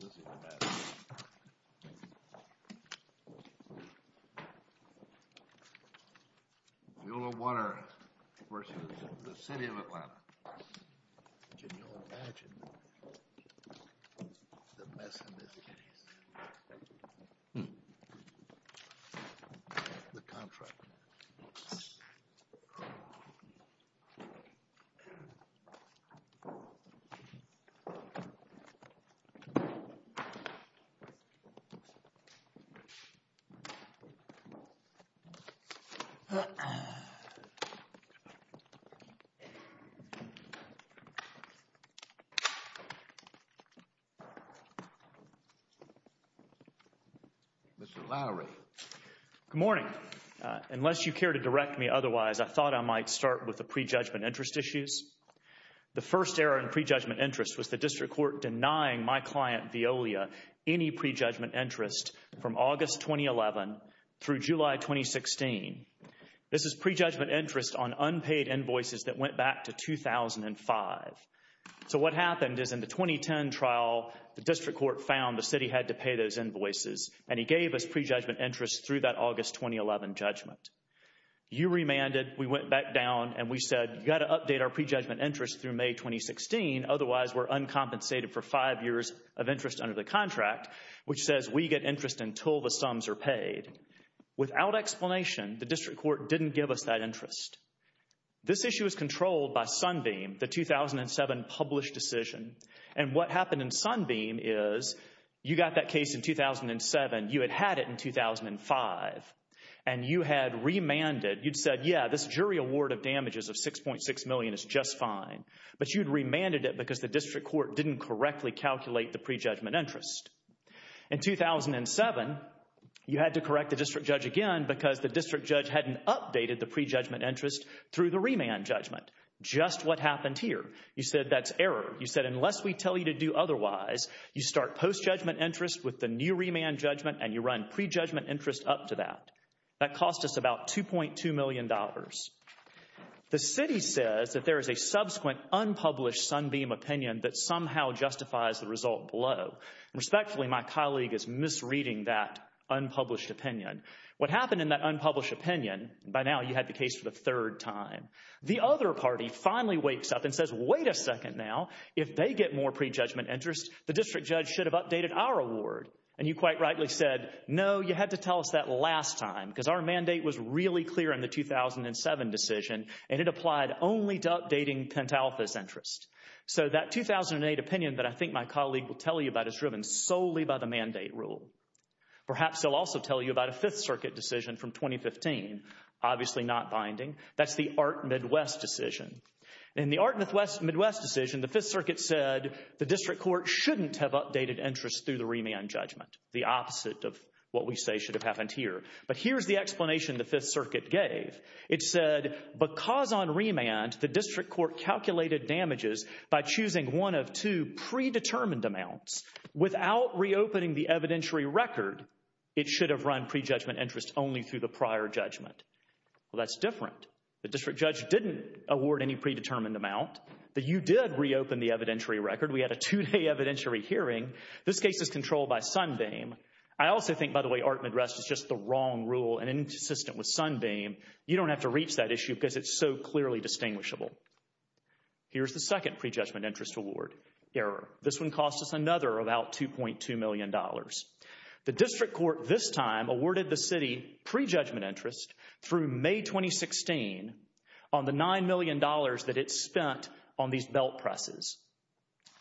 This is the best. Viola Water versus the City of Atlanta. Can you imagine? The best in this case. The contract. Mr. Lowry. Good morning. Unless you care to direct me otherwise, I thought I might start with the pre-judgment interest issues. The first error in pre-judgment interest was the District Court denying my client, Viola, any pre-judgment interest from August 2011 through July 2016. This is pre-judgment interest on unpaid invoices that went back to 2005. So what happened is in the 2010 trial, the District Court found the City had to pay those invoices, and he gave us pre-judgment interest through that August 2011 judgment. You remanded, we went back down, and we said, you got to update our pre-judgment interest through May 2016. Otherwise, we're uncompensated for five years of interest under the contract, which says we get interest until the sums are paid. Without explanation, the District Court didn't give us that interest. This issue is controlled by Sunbeam, the 2007 published decision. And what happened in Sunbeam is you got that case in 2007, you had had it in 2005, and you had remanded. You'd said, yeah, this jury award of damages of $6.6 million is just fine. But you'd remanded it because the District Court didn't correctly calculate the pre-judgment interest. In 2007, you had to correct the District Judge again because the District Judge hadn't updated the pre-judgment interest through the remand judgment. Just what happened here. You said that's error. You said unless we tell you to do otherwise, you start post-judgment interest with the new remand judgment, and you run pre-judgment interest up to that. That cost us about $2.2 million. The City says that there is a subsequent unpublished Sunbeam opinion that somehow justifies the result below. Respectfully, my colleague is misreading that unpublished opinion. What happened in that unpublished opinion, by now you had the case for the third time. The other party finally wakes up and says, wait a second now. If they get more pre-judgment interest, the District Judge should have updated our award. And you quite rightly said, no, you had to tell us that last time because our mandate was really clear in the 2007 decision, and it applied only to updating Pentalpha's interest. So that 2008 opinion that I think my colleague will tell you about is driven solely by the mandate rule. Perhaps they'll also tell you about a 5th Circuit decision from 2015, obviously not binding. That's the Art Midwest decision. In the Art Midwest decision, the 5th Circuit said the District Court shouldn't have updated interest through the remand judgment. The opposite of what we say should have happened here. But here's the explanation the 5th Circuit gave. It said because on remand the District Court calculated damages by choosing one of two predetermined amounts without reopening the evidentiary record, it should have run pre-judgment interest only through the prior judgment. Well, that's different. The District Judge didn't award any predetermined amount. But you did reopen the evidentiary record. We had a two-day evidentiary hearing. This case is controlled by Sundeim. I also think, by the way, Art Midwest is just the wrong rule and inconsistent with Sundeim. You don't have to reach that issue because it's so clearly distinguishable. Here's the second pre-judgment interest award error. This one cost us another about $2.2 million. The District Court this time awarded the city pre-judgment interest through May 2016 on the $9 million that it spent on these belt presses.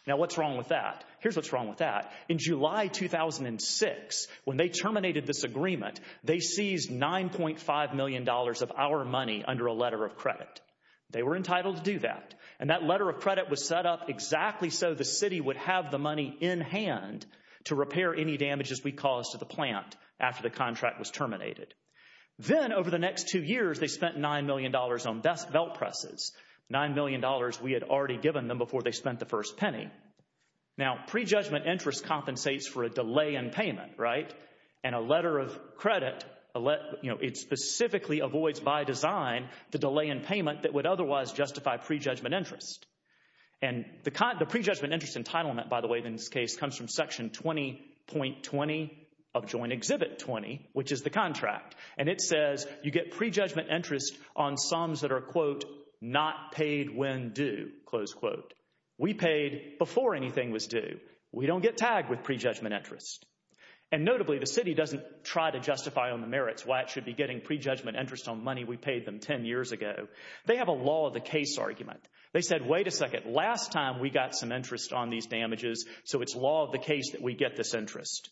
Now, what's wrong with that? Here's what's wrong with that. In July 2006, when they terminated this agreement, they seized $9.5 million of our money under a letter of credit. They were entitled to do that. And that letter of credit was set up exactly so the city would have the money in hand to repair any damages we caused to the plant after the contract was terminated. Then, over the next two years, they spent $9 million on belt presses, $9 million we had already given them before they spent the first penny. Now, pre-judgment interest compensates for a delay in payment, right? And a letter of credit, you know, it specifically avoids by design the delay in payment that would otherwise justify pre-judgment interest. And the pre-judgment interest entitlement, by the way, in this case, comes from Section 20.20 of Joint Exhibit 20, which is the contract. And it says you get pre-judgment interest on sums that are, quote, not paid when due, close quote. We paid before anything was due. We don't get tagged with pre-judgment interest. And notably, the city doesn't try to justify on the merits why it should be getting pre-judgment interest on money we paid them 10 years ago. They have a law of the case argument. They said, wait a second, last time we got some interest on these damages, so it's law of the case that we get this interest.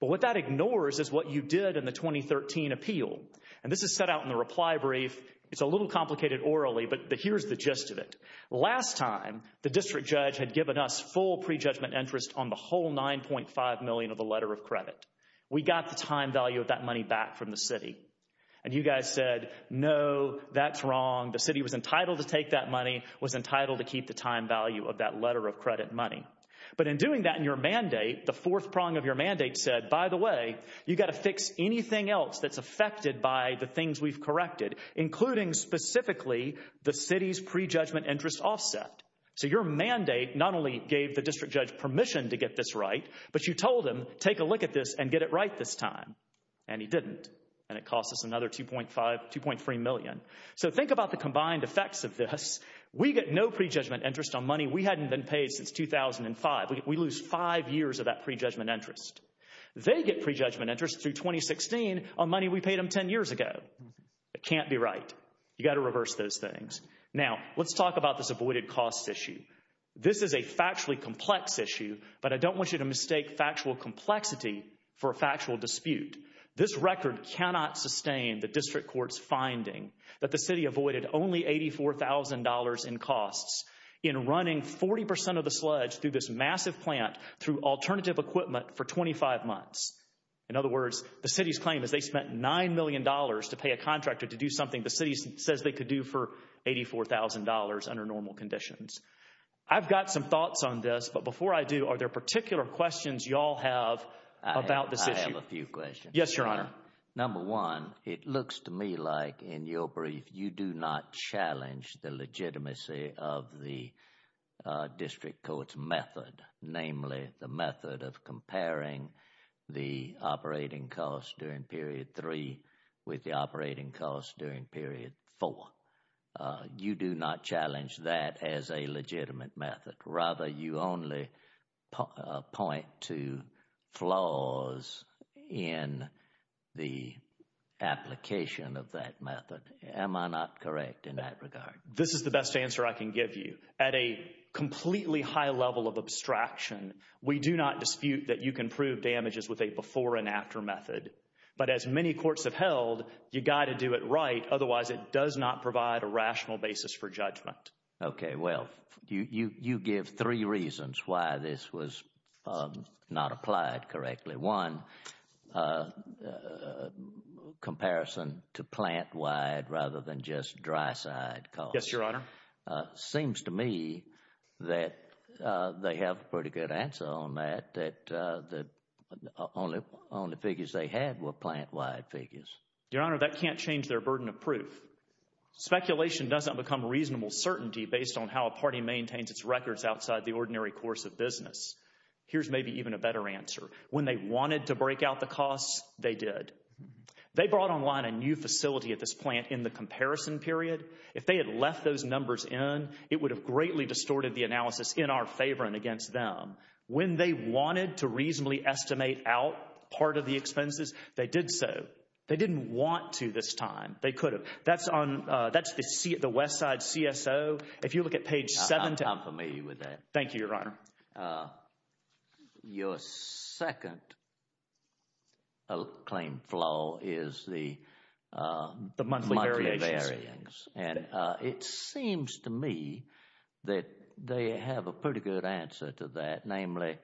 But what that ignores is what you did in the 2013 appeal. And this is set out in the reply brief. It's a little complicated orally, but here's the gist of it. Last time, the district judge had given us full pre-judgment interest on the whole $9.5 million of the letter of credit. We got the time value of that money back from the city. And you guys said, no, that's wrong. The city was entitled to take that money, was entitled to keep the time value of that letter of credit money. But in doing that in your mandate, the fourth prong of your mandate said, by the way, you've got to fix anything else that's affected by the things we've corrected, including specifically the city's pre-judgment interest offset. So your mandate not only gave the district judge permission to get this right, but you told him, take a look at this and get it right this time. And he didn't. And it cost us another $2.3 million. So think about the combined effects of this. We get no pre-judgment interest on money we hadn't been paid since 2005. We lose five years of that pre-judgment interest. They get pre-judgment interest through 2016 on money we paid them 10 years ago. It can't be right. You've got to reverse those things. Now, let's talk about this avoided costs issue. This is a factually complex issue, but I don't want you to mistake factual complexity for a factual dispute. This record cannot sustain the district court's finding that the city avoided only $84,000 in costs in running 40% of the sludge through this massive plant through alternative equipment for 25 months. In other words, the city's claim is they spent $9 million to pay a contractor to do something the city says they could do for $84,000 under normal conditions. I've got some thoughts on this, but before I do, are there particular questions you all have about this issue? I have a few questions. Yes, Your Honor. Number one, it looks to me like in your brief you do not challenge the legitimacy of the district court's method, namely the method of comparing the operating costs during period three with the operating costs during period four. You do not challenge that as a legitimate method. Rather, you only point to flaws in the application of that method. Am I not correct in that regard? This is the best answer I can give you. At a completely high level of abstraction, we do not dispute that you can prove damages with a before and after method. But as many courts have held, you've got to do it right, otherwise it does not provide a rational basis for judgment. Okay, well, you give three reasons why this was not applied correctly. One, comparison to plant-wide rather than just dry-side costs. Yes, Your Honor. Seems to me that they have a pretty good answer on that, that the only figures they had were plant-wide figures. Your Honor, that can't change their burden of proof. Speculation doesn't become reasonable certainty based on how a party maintains its records outside the ordinary course of business. Here's maybe even a better answer. When they wanted to break out the costs, they did. They brought online a new facility at this plant in the comparison period. If they had left those numbers in, it would have greatly distorted the analysis in our favor and against them. When they wanted to reasonably estimate out part of the expenses, they did so. They didn't want to this time. They could have. That's on—that's the Westside CSO. If you look at page 7— I'm familiar with that. Thank you, Your Honor. Your second claim flaw is the— The monthly variations. Monthly variations. And it seems to me that they have a pretty good answer to that, namely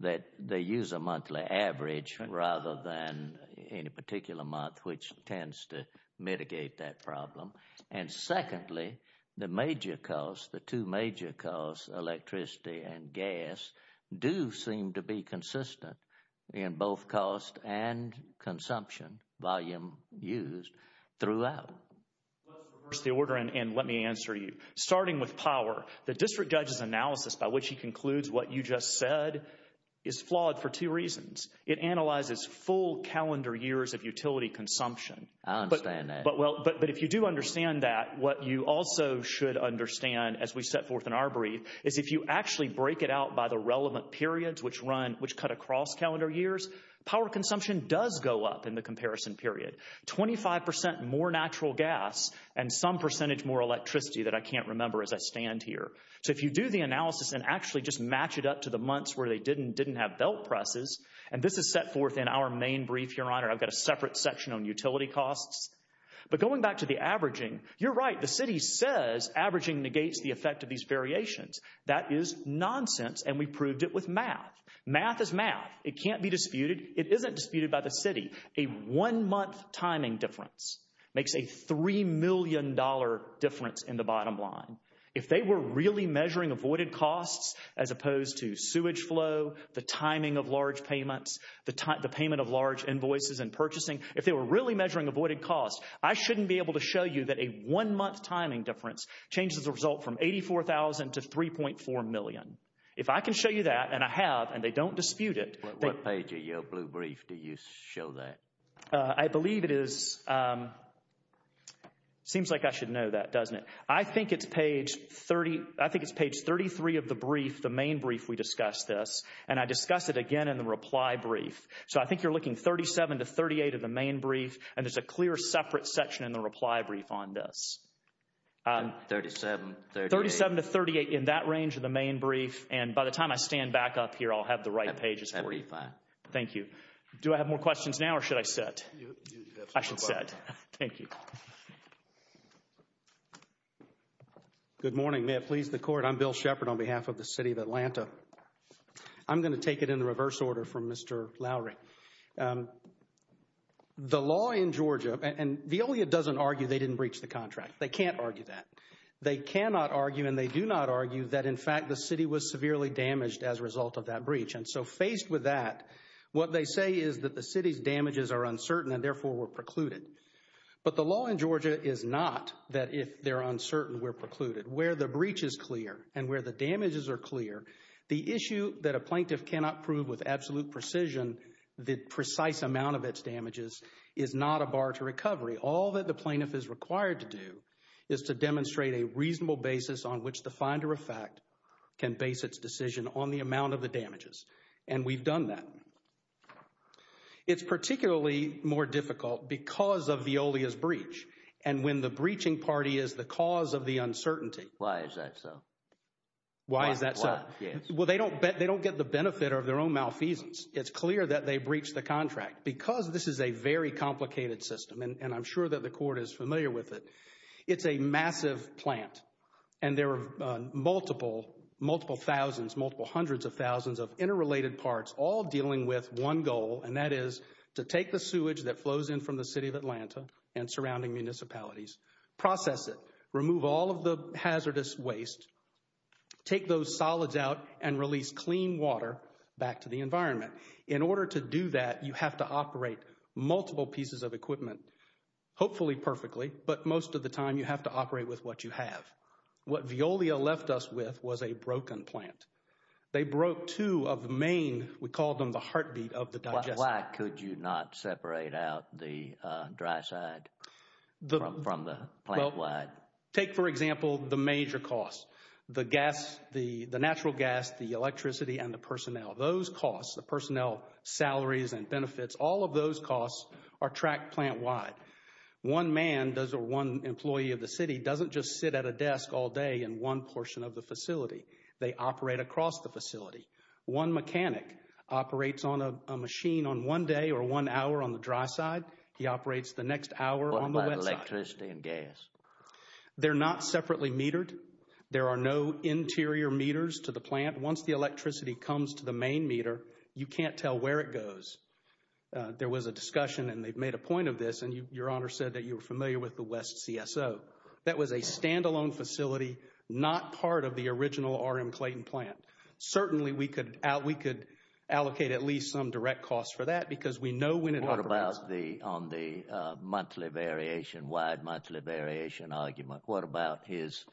that they use a monthly average rather than any particular month, which tends to mitigate that problem. And secondly, the major costs, the two major costs, electricity and gas, do seem to be consistent in both cost and consumption volume used throughout. Let's reverse the order and let me answer you. Starting with power, the district judge's analysis, by which he concludes what you just said, is flawed for two reasons. It analyzes full calendar years of utility consumption. I understand that. But if you do understand that, what you also should understand, as we set forth in our brief, is if you actually break it out by the relevant periods, which run—which cut across calendar years, power consumption does go up in the comparison period. Twenty-five percent more natural gas and some percentage more electricity that I can't remember as I stand here. So if you do the analysis and actually just match it up to the months where they didn't have belt presses—and this is set forth in our main brief, Your Honor. I've got a separate section on utility costs. But going back to the averaging, you're right. The city says averaging negates the effect of these variations. That is nonsense and we proved it with math. Math is math. It can't be disputed. It isn't disputed by the city. A one-month timing difference makes a $3 million difference in the bottom line. If they were really measuring avoided costs as opposed to sewage flow, the timing of large payments, the payment of large invoices and purchasing, if they were really measuring avoided costs, I shouldn't be able to show you that a one-month timing difference changes the result from $84,000 to $3.4 million. If I can show you that, and I have, and they don't dispute it— What page of your blue brief do you show that? I believe it is—seems like I should know that, doesn't it? I think it's page 30—I think it's page 33 of the brief, the main brief we discussed this, and I discussed it again in the reply brief. So I think you're looking 37 to 38 of the main brief, and there's a clear separate section in the reply brief on this. 37, 38. 37 to 38 in that range of the main brief, and by the time I stand back up here, I'll have the right pages. That'd be fine. Thank you. Do I have more questions now or should I sit? I should sit. Thank you. Good morning. May it please the Court. I'm Bill Shepard on behalf of the city of Atlanta. I'm going to take it in the reverse order from Mr. Lowry. The law in Georgia—and Veolia doesn't argue they didn't breach the contract. They can't argue that. They cannot argue, and they do not argue, that in fact the city was severely damaged as a result of that breach. And so faced with that, what they say is that the city's damages are uncertain and therefore were precluded. But the law in Georgia is not that if they're uncertain, we're precluded. Where the breach is clear and where the damages are clear, the issue that a plaintiff cannot prove with absolute precision, the precise amount of its damages, is not a bar to recovery. All that the plaintiff is required to do is to demonstrate a reasonable basis on which the finder of fact can base its decision on the amount of the damages. And we've done that. It's particularly more difficult because of Veolia's breach and when the breaching party is the cause of the uncertainty. Why is that so? Why is that so? Well, they don't get the benefit of their own malfeasance. It's clear that they breached the contract. Because this is a very complicated system, and I'm sure that the Court is familiar with it, it's a massive plant. And there are multiple, multiple thousands, multiple hundreds of thousands of interrelated parts all dealing with one goal, and that is to take the sewage that flows in from the City of Atlanta and surrounding municipalities, process it, remove all of the hazardous waste, take those solids out, and release clean water back to the environment. In order to do that, you have to operate multiple pieces of equipment, hopefully perfectly, but most of the time you have to operate with what you have. What Veolia left us with was a broken plant. They broke two of the main, we called them the heartbeat of the digestive. Why could you not separate out the dry side from the plant-wide? Take, for example, the major costs, the gas, the natural gas, the electricity, and the personnel. Those costs, the personnel salaries and benefits, all of those costs are tracked plant-wide. One man or one employee of the City doesn't just sit at a desk all day in one portion of the facility. They operate across the facility. One mechanic operates on a machine on one day or one hour on the dry side. He operates the next hour on the wet side. What about electricity and gas? They're not separately metered. There are no interior meters to the plant. Once the electricity comes to the main meter, you can't tell where it goes. There was a discussion, and they've made a point of this, and Your Honor said that you were familiar with the West CSO. That was a stand-alone facility, not part of the original R.M. Clayton plant. Certainly, we could allocate at least some direct costs for that because we know when it— What about on the monthly variation, wide monthly variation argument? What about his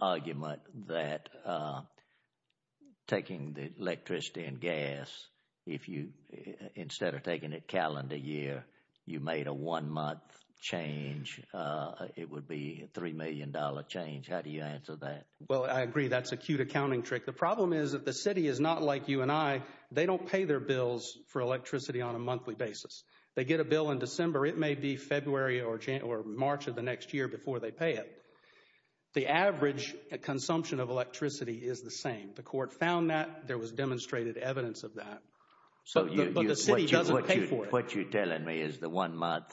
argument that taking the electricity and gas, if you instead of taking it calendar year, you made a one-month change, it would be a $3 million change. How do you answer that? Well, I agree that's a cute accounting trick. The problem is that the City is not like you and I. They don't pay their bills for electricity on a monthly basis. They get a bill in December. It may be February or March of the next year before they pay it. The average consumption of electricity is the same. The Court found that. There was demonstrated evidence of that. But the City doesn't pay for it. What you're telling me is the one-month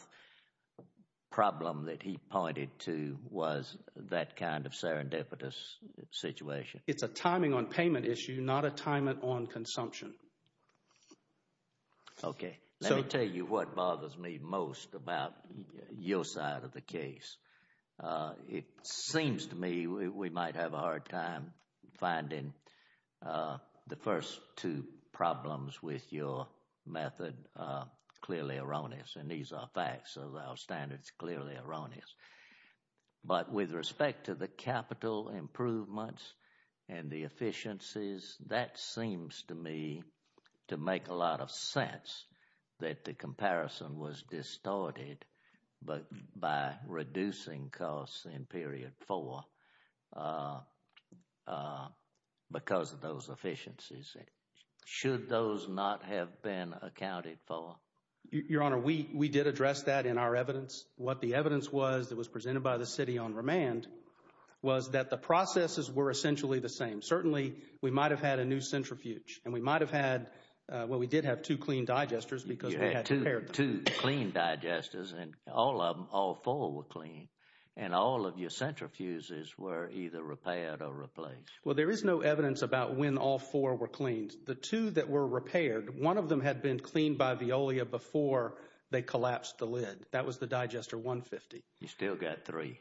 problem that he pointed to was that kind of serendipitous situation. It's a timing on payment issue, not a timing on consumption. Okay. Let me tell you what bothers me most about your side of the case. It seems to me we might have a hard time finding the first two problems with your method clearly erroneous. And these are facts of our standards, clearly erroneous. But with respect to the capital improvements and the efficiencies, that seems to me to make a lot of sense that the comparison was distorted by reducing costs in period four because of those efficiencies. Should those not have been accounted for? Your Honor, we did address that in our evidence. What the evidence was that was presented by the City on remand was that the processes were essentially the same. Certainly, we might have had a new centrifuge. And we might have had, well, we did have two clean digesters because they had repaired them. You had two clean digesters and all four were clean. And all of your centrifuges were either repaired or replaced. Well, there is no evidence about when all four were cleaned. The two that were repaired, one of them had been cleaned by Veolia before they collapsed the lid. That was the digester 150. You still got three.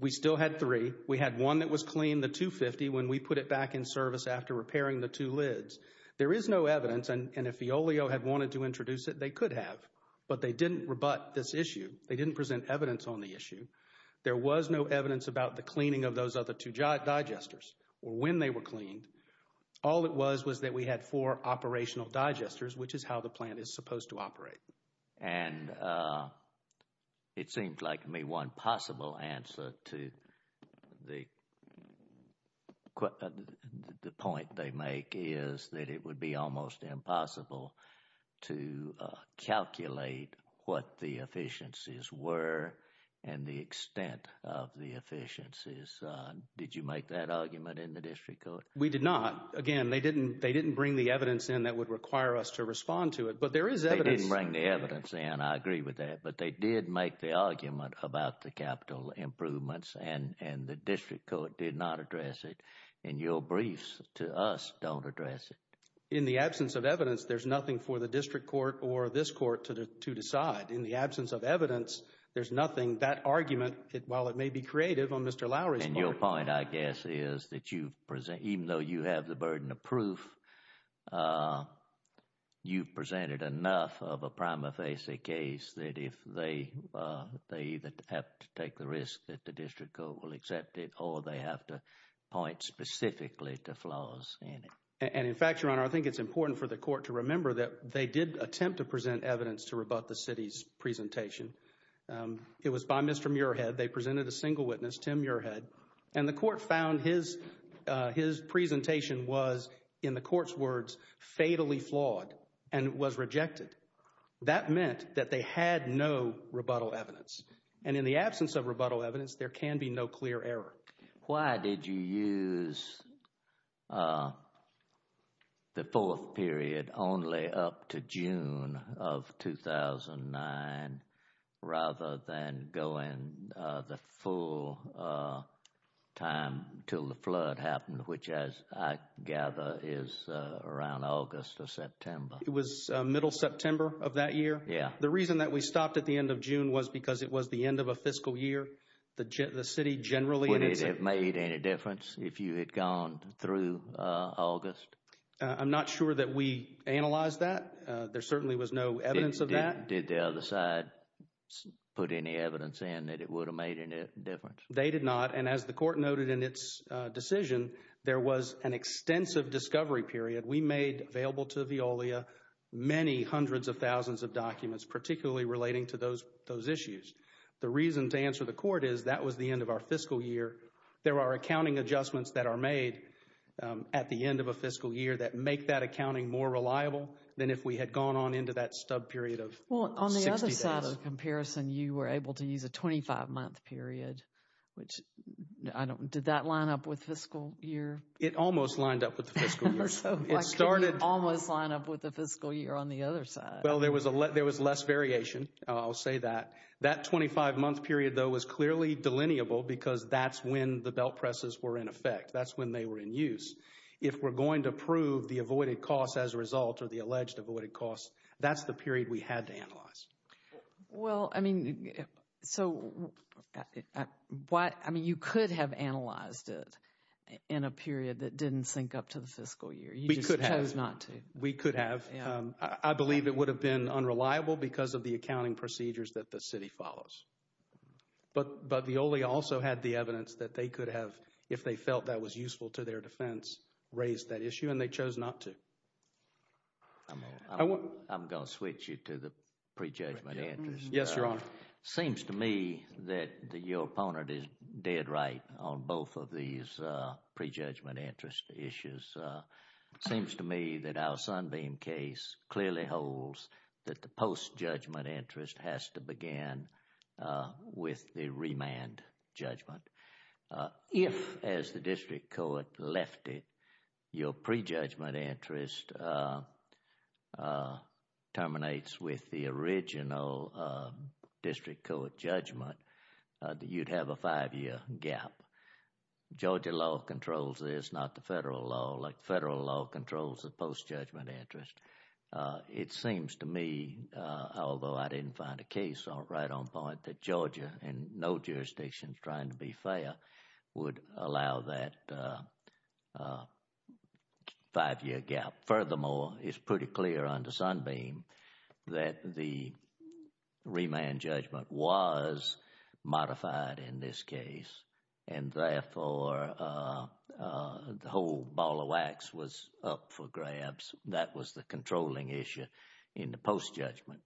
We still had three. We had one that was clean, the 250. When we put it back in service after repairing the two lids, there is no evidence. And if Veolia had wanted to introduce it, they could have. But they didn't rebut this issue. They didn't present evidence on the issue. There was no evidence about the cleaning of those other two digesters or when they were cleaned. All it was was that we had four operational digesters, which is how the plant is supposed to operate. And it seems like one possible answer to the point they make is that it would be almost impossible to calculate what the efficiencies were and the extent of the efficiencies. Did you make that argument in the district court? We did not. Again, they didn't bring the evidence in that would require us to respond to it. But there is evidence. They didn't bring the evidence in. I agree with that. But they did make the argument about the capital improvements, and the district court did not address it. And your briefs to us don't address it. In the absence of evidence, there's nothing for the district court or this court to decide. In the absence of evidence, there's nothing. That argument, while it may be creative on Mr. Lowry's part. And your point, I guess, is that even though you have the burden of proof, you've presented enough of a prima facie case that if they either have to take the risk that the district court will accept it or they have to point specifically to flaws in it. And, in fact, Your Honor, I think it's important for the court to remember that they did attempt to present evidence to rebut the city's presentation. It was by Mr. Muirhead. They presented a single witness, Tim Muirhead. And the court found his presentation was, in the court's words, fatally flawed and was rejected. That meant that they had no rebuttal evidence. And in the absence of rebuttal evidence, there can be no clear error. Why did you use the fourth period only up to June of 2009 rather than going the full time until the flood happened, which, as I gather, is around August or September? It was middle September of that year. The reason that we stopped at the end of June was because it was the end of a fiscal year. The city generally— Would it have made any difference if you had gone through August? I'm not sure that we analyzed that. There certainly was no evidence of that. Did the other side put any evidence in that it would have made any difference? They did not. And as the court noted in its decision, there was an extensive discovery period. We made available to Veolia many hundreds of thousands of documents, particularly relating to those issues. The reason, to answer the court, is that was the end of our fiscal year. There are accounting adjustments that are made at the end of a fiscal year that make that accounting more reliable than if we had gone on into that stub period of 60 days. Well, on the other side of the comparison, you were able to use a 25-month period. Did that line up with fiscal year? It almost lined up with the fiscal year. Why couldn't it almost line up with the fiscal year on the other side? Well, there was less variation. I'll say that. That 25-month period, though, was clearly delineable because that's when the belt presses were in effect. That's when they were in use. If we're going to prove the avoided costs as a result or the alleged avoided costs, that's the period we had to analyze. Well, I mean, so you could have analyzed it in a period that didn't sync up to the fiscal year. We could have. You just chose not to. We could have. I believe it would have been unreliable because of the accounting procedures that the city follows. But the OLE also had the evidence that they could have, if they felt that was useful to their defense, raised that issue, and they chose not to. I'm going to switch you to the prejudgment interest. Yes, Your Honor. It seems to me that your opponent is dead right on both of these prejudgment interest issues. It seems to me that our Sunbeam case clearly holds that the post-judgment interest has to begin with the remand judgment. If, as the district court left it, your prejudgment interest terminates with the original district court judgment, you'd have a five-year gap. Georgia law controls this, not the federal law. Federal law controls the post-judgment interest. It seems to me, although I didn't find a case right on point, that Georgia, in no jurisdictions trying to be fair, would allow that five-year gap. Furthermore, it's pretty clear under Sunbeam that the remand judgment was modified in this case, and therefore the whole ball of wax was up for grabs. That was the controlling issue in the post-judgment.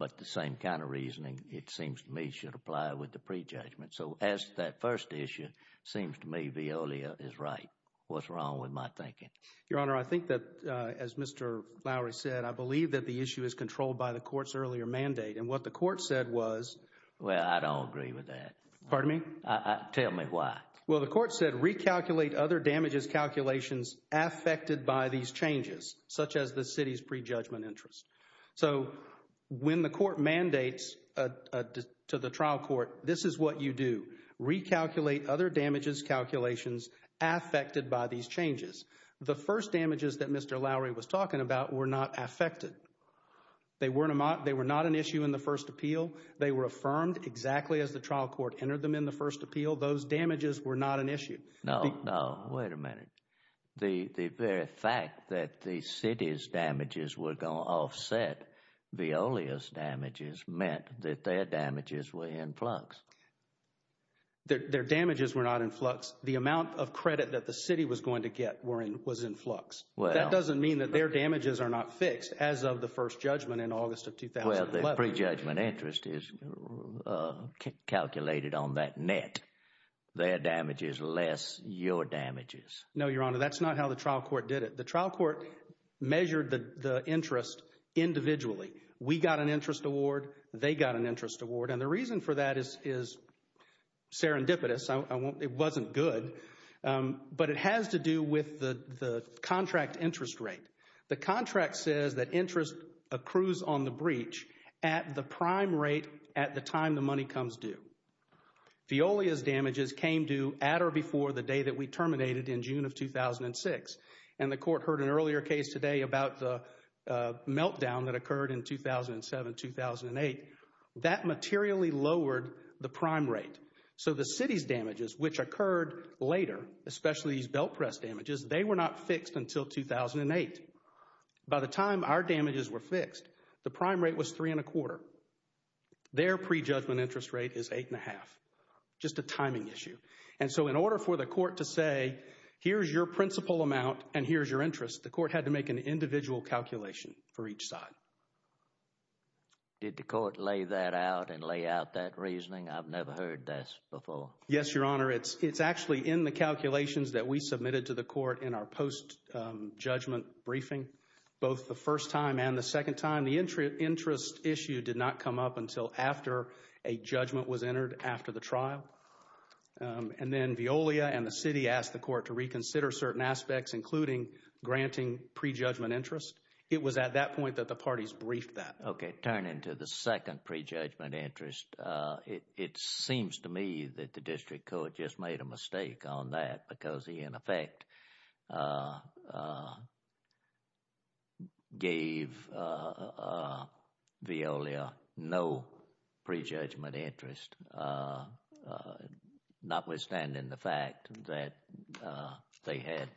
But the same kind of reasoning, it seems to me, should apply with the prejudgment. So as to that first issue, it seems to me Veolia is right. What's wrong with my thinking? Your Honor, I think that, as Mr. Lowry said, I believe that the issue is controlled by the court's earlier mandate. And what the court said was— Well, I don't agree with that. Pardon me? Tell me why. Well, the court said recalculate other damages calculations affected by these changes, such as the city's prejudgment interest. So when the court mandates to the trial court, this is what you do. Recalculate other damages calculations affected by these changes. The first damages that Mr. Lowry was talking about were not affected. They were not an issue in the first appeal. They were affirmed exactly as the trial court entered them in the first appeal. Those damages were not an issue. No, no. Wait a minute. The very fact that the city's damages were going to offset Veolia's damages meant that their damages were in flux. Their damages were not in flux. The amount of credit that the city was going to get was in flux. That doesn't mean that their damages are not fixed as of the first judgment in August of 2011. Well, the prejudgment interest is calculated on that net. Their damages less your damages. No, Your Honor. That's not how the trial court did it. The trial court measured the interest individually. We got an interest award. They got an interest award. And the reason for that is serendipitous. It wasn't good. But it has to do with the contract interest rate. The contract says that interest accrues on the breach at the prime rate at the time the money comes due. Veolia's damages came due at or before the day that we terminated in June of 2006. And the court heard an earlier case today about the meltdown that occurred in 2007-2008. That materially lowered the prime rate. So the city's damages, which occurred later, especially these belt press damages, they were not fixed until 2008. By the time our damages were fixed, the prime rate was three and a quarter. Their prejudgment interest rate is eight and a half. Just a timing issue. And so in order for the court to say, here's your principal amount and here's your interest, the court had to make an individual calculation for each side. Did the court lay that out and lay out that reasoning? I've never heard this before. Yes, Your Honor. It's actually in the calculations that we submitted to the court in our post-judgment briefing, both the first time and the second time. The interest issue did not come up until after a judgment was entered after the trial. And then Veolia and the city asked the court to reconsider certain aspects, including granting prejudgment interest. It was at that point that the parties briefed that. Okay, turning to the second prejudgment interest, it seems to me that the district court just made a mistake on that because he, in effect, gave Veolia no prejudgment interest, notwithstanding the fact that they had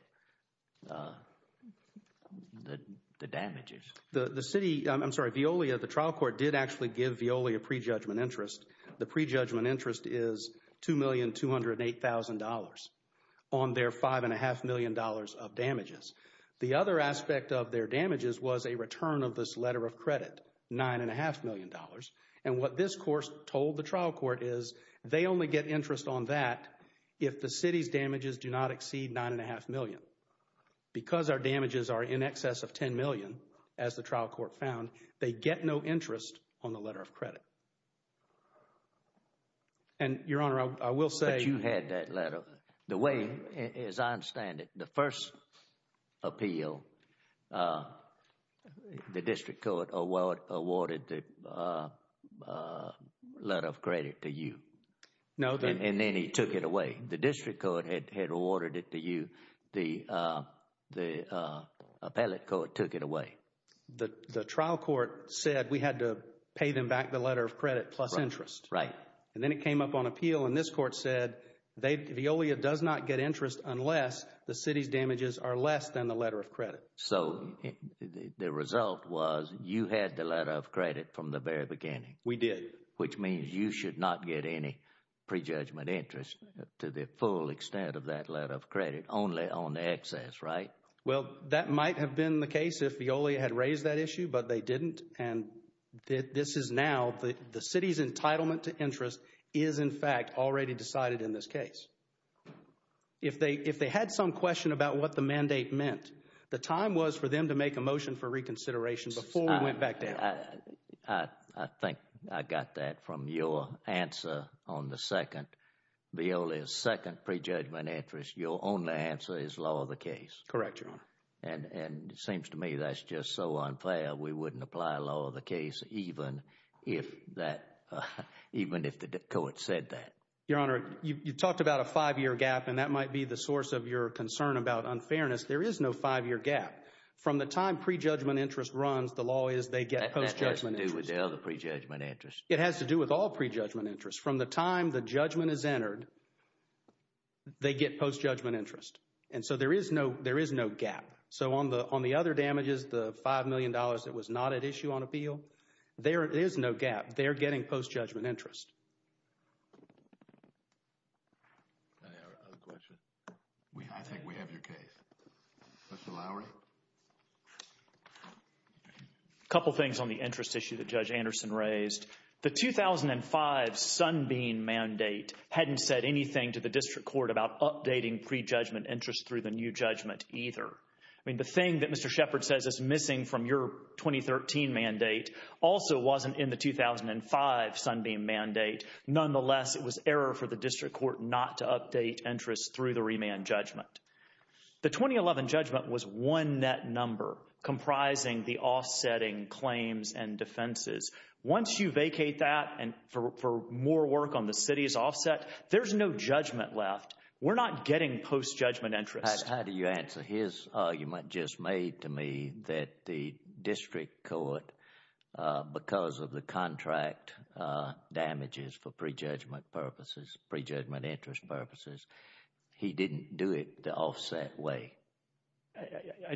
the damages. The city, I'm sorry, Veolia, the trial court did actually give Veolia prejudgment interest. The prejudgment interest is $2,208,000 on their $5.5 million of damages. The other aspect of their damages was a return of this letter of credit, $9.5 million. And what this court told the trial court is they only get interest on that if the city's damages do not exceed $9.5 million. Because our damages are in excess of $10 million, as the trial court found, they get no interest on the letter of credit. And, Your Honor, I will say— But you had that letter. The way, as I understand it, the first appeal, the district court awarded the letter of credit to you. No. And then he took it away. The district court had awarded it to you. The appellate court took it away. The trial court said we had to pay them back the letter of credit plus interest. Right. And then it came up on appeal, and this court said Veolia does not get interest unless the city's damages are less than the letter of credit. So the result was you had the letter of credit from the very beginning. We did. Which means you should not get any prejudgment interest to the full extent of that letter of credit, only on the excess, right? Well, that might have been the case if Veolia had raised that issue, but they didn't. And this is now—the city's entitlement to interest is, in fact, already decided in this case. If they had some question about what the mandate meant, the time was for them to make a motion for reconsideration before we went back down. I think I got that from your answer on the second—Veolia's second prejudgment interest. Your only answer is law of the case. Correct, Your Honor. And it seems to me that's just so unfair. We wouldn't apply law of the case even if that—even if the court said that. Your Honor, you talked about a five-year gap, and that might be the source of your concern about unfairness. There is no five-year gap. From the time prejudgment interest runs, the law is they get post-judgment interest. That has to do with the other prejudgment interest. It has to do with all prejudgment interest. From the time the judgment is entered, they get post-judgment interest. And so there is no gap. So on the other damages, the $5 million that was not at issue on appeal, there is no gap. They're getting post-judgment interest. Any other questions? I think we have your case. Mr. Lowry. A couple things on the interest issue that Judge Anderson raised. The 2005 Sunbeam mandate hadn't said anything to the district court about updating prejudgment interest through the new judgment either. I mean, the thing that Mr. Shepard says is missing from your 2013 mandate also wasn't in the 2005 Sunbeam mandate. Nonetheless, it was error for the district court not to update interest through the remand judgment. The 2011 judgment was one net number comprising the offsetting claims and defenses. Once you vacate that and for more work on the city's offset, there's no judgment left. We're not getting post-judgment interest. How do you answer his argument just made to me that the district court, because of the contract damages for prejudgment purposes, prejudgment interest purposes, he didn't do it the offset way?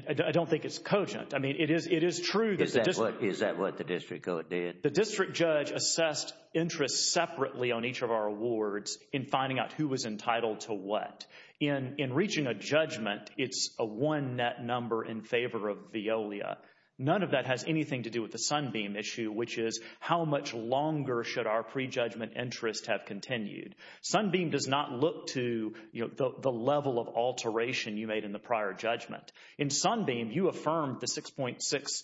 I don't think it's cogent. I mean, it is true. Is that what the district court did? The district judge assessed interest separately on each of our awards in finding out who was entitled to what. In reaching a judgment, it's a one net number in favor of Veolia. None of that has anything to do with the Sunbeam issue, which is how much longer should our prejudgment interest have continued. Sunbeam does not look to the level of alteration you made in the prior judgment. In Sunbeam, you affirmed the $6.6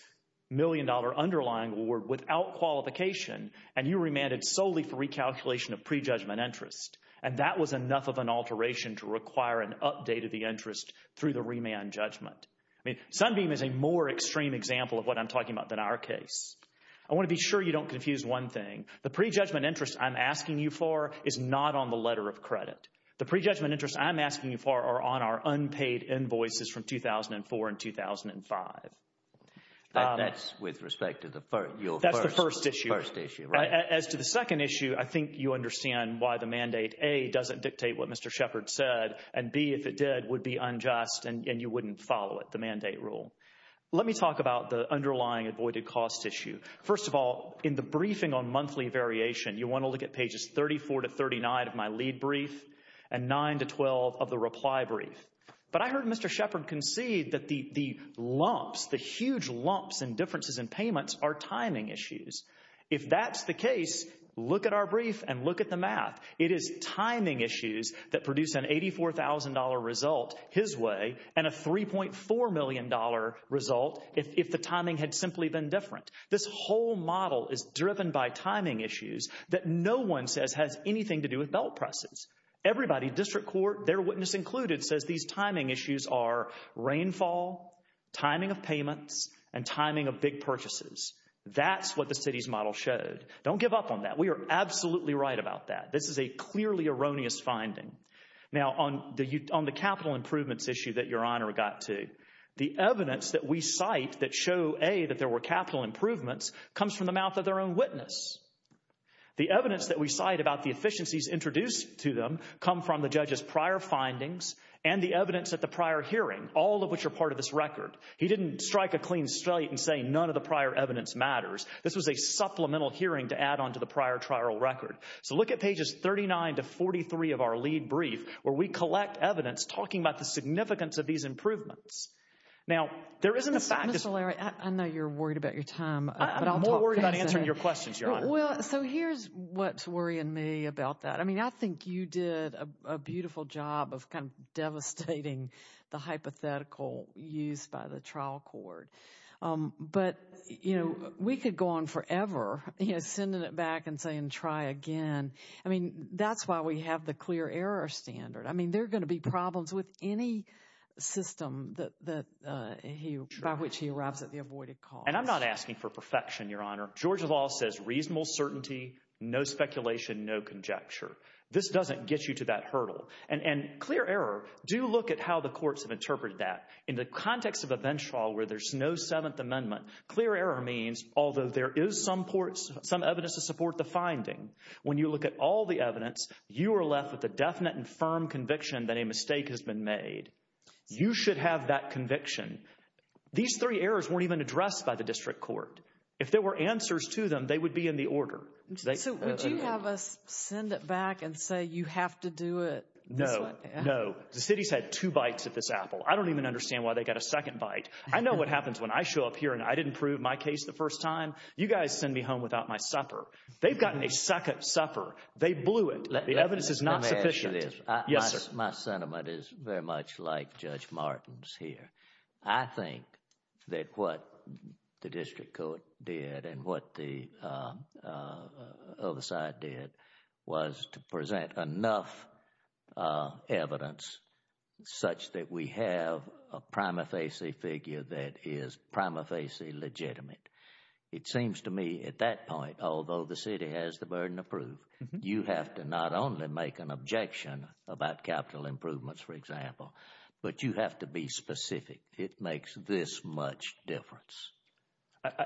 million underlying award without qualification, and you remanded solely for recalculation of prejudgment interest. And that was enough of an alteration to require an update of the interest through the remand judgment. I mean, Sunbeam is a more extreme example of what I'm talking about than our case. I want to be sure you don't confuse one thing. The prejudgment interest I'm asking you for is not on the letter of credit. The prejudgment interest I'm asking you for are on our unpaid invoices from 2004 and 2005. That's with respect to your first issue, right? That's the first issue. As to the second issue, I think you understand why the mandate, A, doesn't dictate what Mr. Shepard said, and B, if it did, would be unjust and you wouldn't follow it, the mandate rule. Let me talk about the underlying avoided costs issue. First of all, in the briefing on monthly variation, you want to look at pages 34 to 39 of my lead brief and 9 to 12 of the reply brief. But I heard Mr. Shepard concede that the lumps, the huge lumps in differences in payments are timing issues. If that's the case, look at our brief and look at the math. It is timing issues that produce an $84,000 result his way and a $3.4 million result if the timing had simply been different. This whole model is driven by timing issues that no one says has anything to do with belt presses. Everybody, district court, their witness included, says these timing issues are rainfall, timing of payments, and timing of big purchases. That's what the city's model showed. Don't give up on that. We are absolutely right about that. This is a clearly erroneous finding. Now, on the capital improvements issue that Your Honor got to, the evidence that we cite that show, A, that there were capital improvements comes from the mouth of their own witness. The evidence that we cite about the efficiencies introduced to them come from the judge's prior findings and the evidence at the prior hearing, all of which are part of this record. He didn't strike a clean straight and say none of the prior evidence matters. This was a supplemental hearing to add on to the prior trial record. So, look at pages 39 to 43 of our lead brief where we collect evidence talking about the significance of these improvements. Now, there isn't a fact that… Mr. Larry, I know you're worried about your time. I'm more worried about answering your questions, Your Honor. Well, so here's what's worrying me about that. I mean, I think you did a beautiful job of kind of devastating the hypothetical used by the trial court. But, you know, we could go on forever, you know, sending it back and saying try again. I mean, that's why we have the clear error standard. I mean, there are going to be problems with any system by which he arrives at the avoided cause. And I'm not asking for perfection, Your Honor. Georgia law says reasonable certainty, no speculation, no conjecture. This doesn't get you to that hurdle. And clear error, do look at how the courts have interpreted that. In the context of a bench trial where there's no Seventh Amendment, clear error means, although there is some evidence to support the finding, when you look at all the evidence, you are left with a definite and firm conviction that a mistake has been made. You should have that conviction. These three errors weren't even addressed by the district court. If there were answers to them, they would be in the order. So would you have us send it back and say you have to do it? No, no. The city's had two bites at this apple. I don't even understand why they got a second bite. I know what happens when I show up here and I didn't prove my case the first time. You guys send me home without my supper. They've gotten a second supper. They blew it. The evidence is not sufficient. Yes, sir. My sentiment is very much like Judge Martin's here. I think that what the district court did and what the other side did was to present enough evidence such that we have a prima facie figure that is prima facie legitimate. It seems to me at that point, although the city has the burden of proof, you have to not only make an objection about capital improvements, for example, but you have to be specific. It makes this much difference.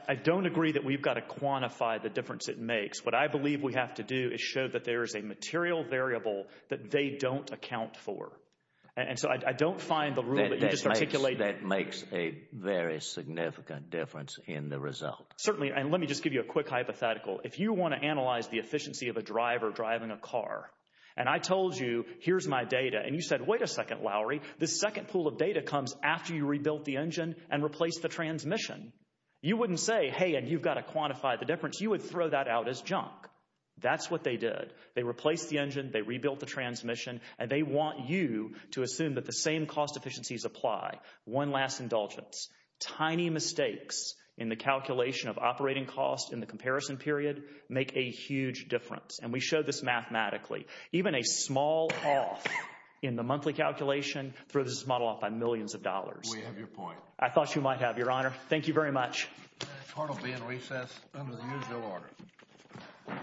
I don't agree that we've got to quantify the difference it makes. What I believe we have to do is show that there is a material variable that they don't account for. That makes a very significant difference in the result. Certainly. And let me just give you a quick hypothetical. If you want to analyze the efficiency of a driver driving a car and I told you here's my data and you said, wait a second, Lowry, this second pool of data comes after you rebuilt the engine and replaced the transmission. You wouldn't say, hey, and you've got to quantify the difference. You would throw that out as junk. That's what they did. They replaced the engine. They rebuilt the transmission. And they want you to assume that the same cost efficiencies apply. One last indulgence. Tiny mistakes in the calculation of operating costs in the comparison period make a huge difference. And we show this mathematically. Even a small off in the monthly calculation throws this model off by millions of dollars. We have your point. I thought you might have, Your Honor. Thank you very much. The court will be in recess under the usual order.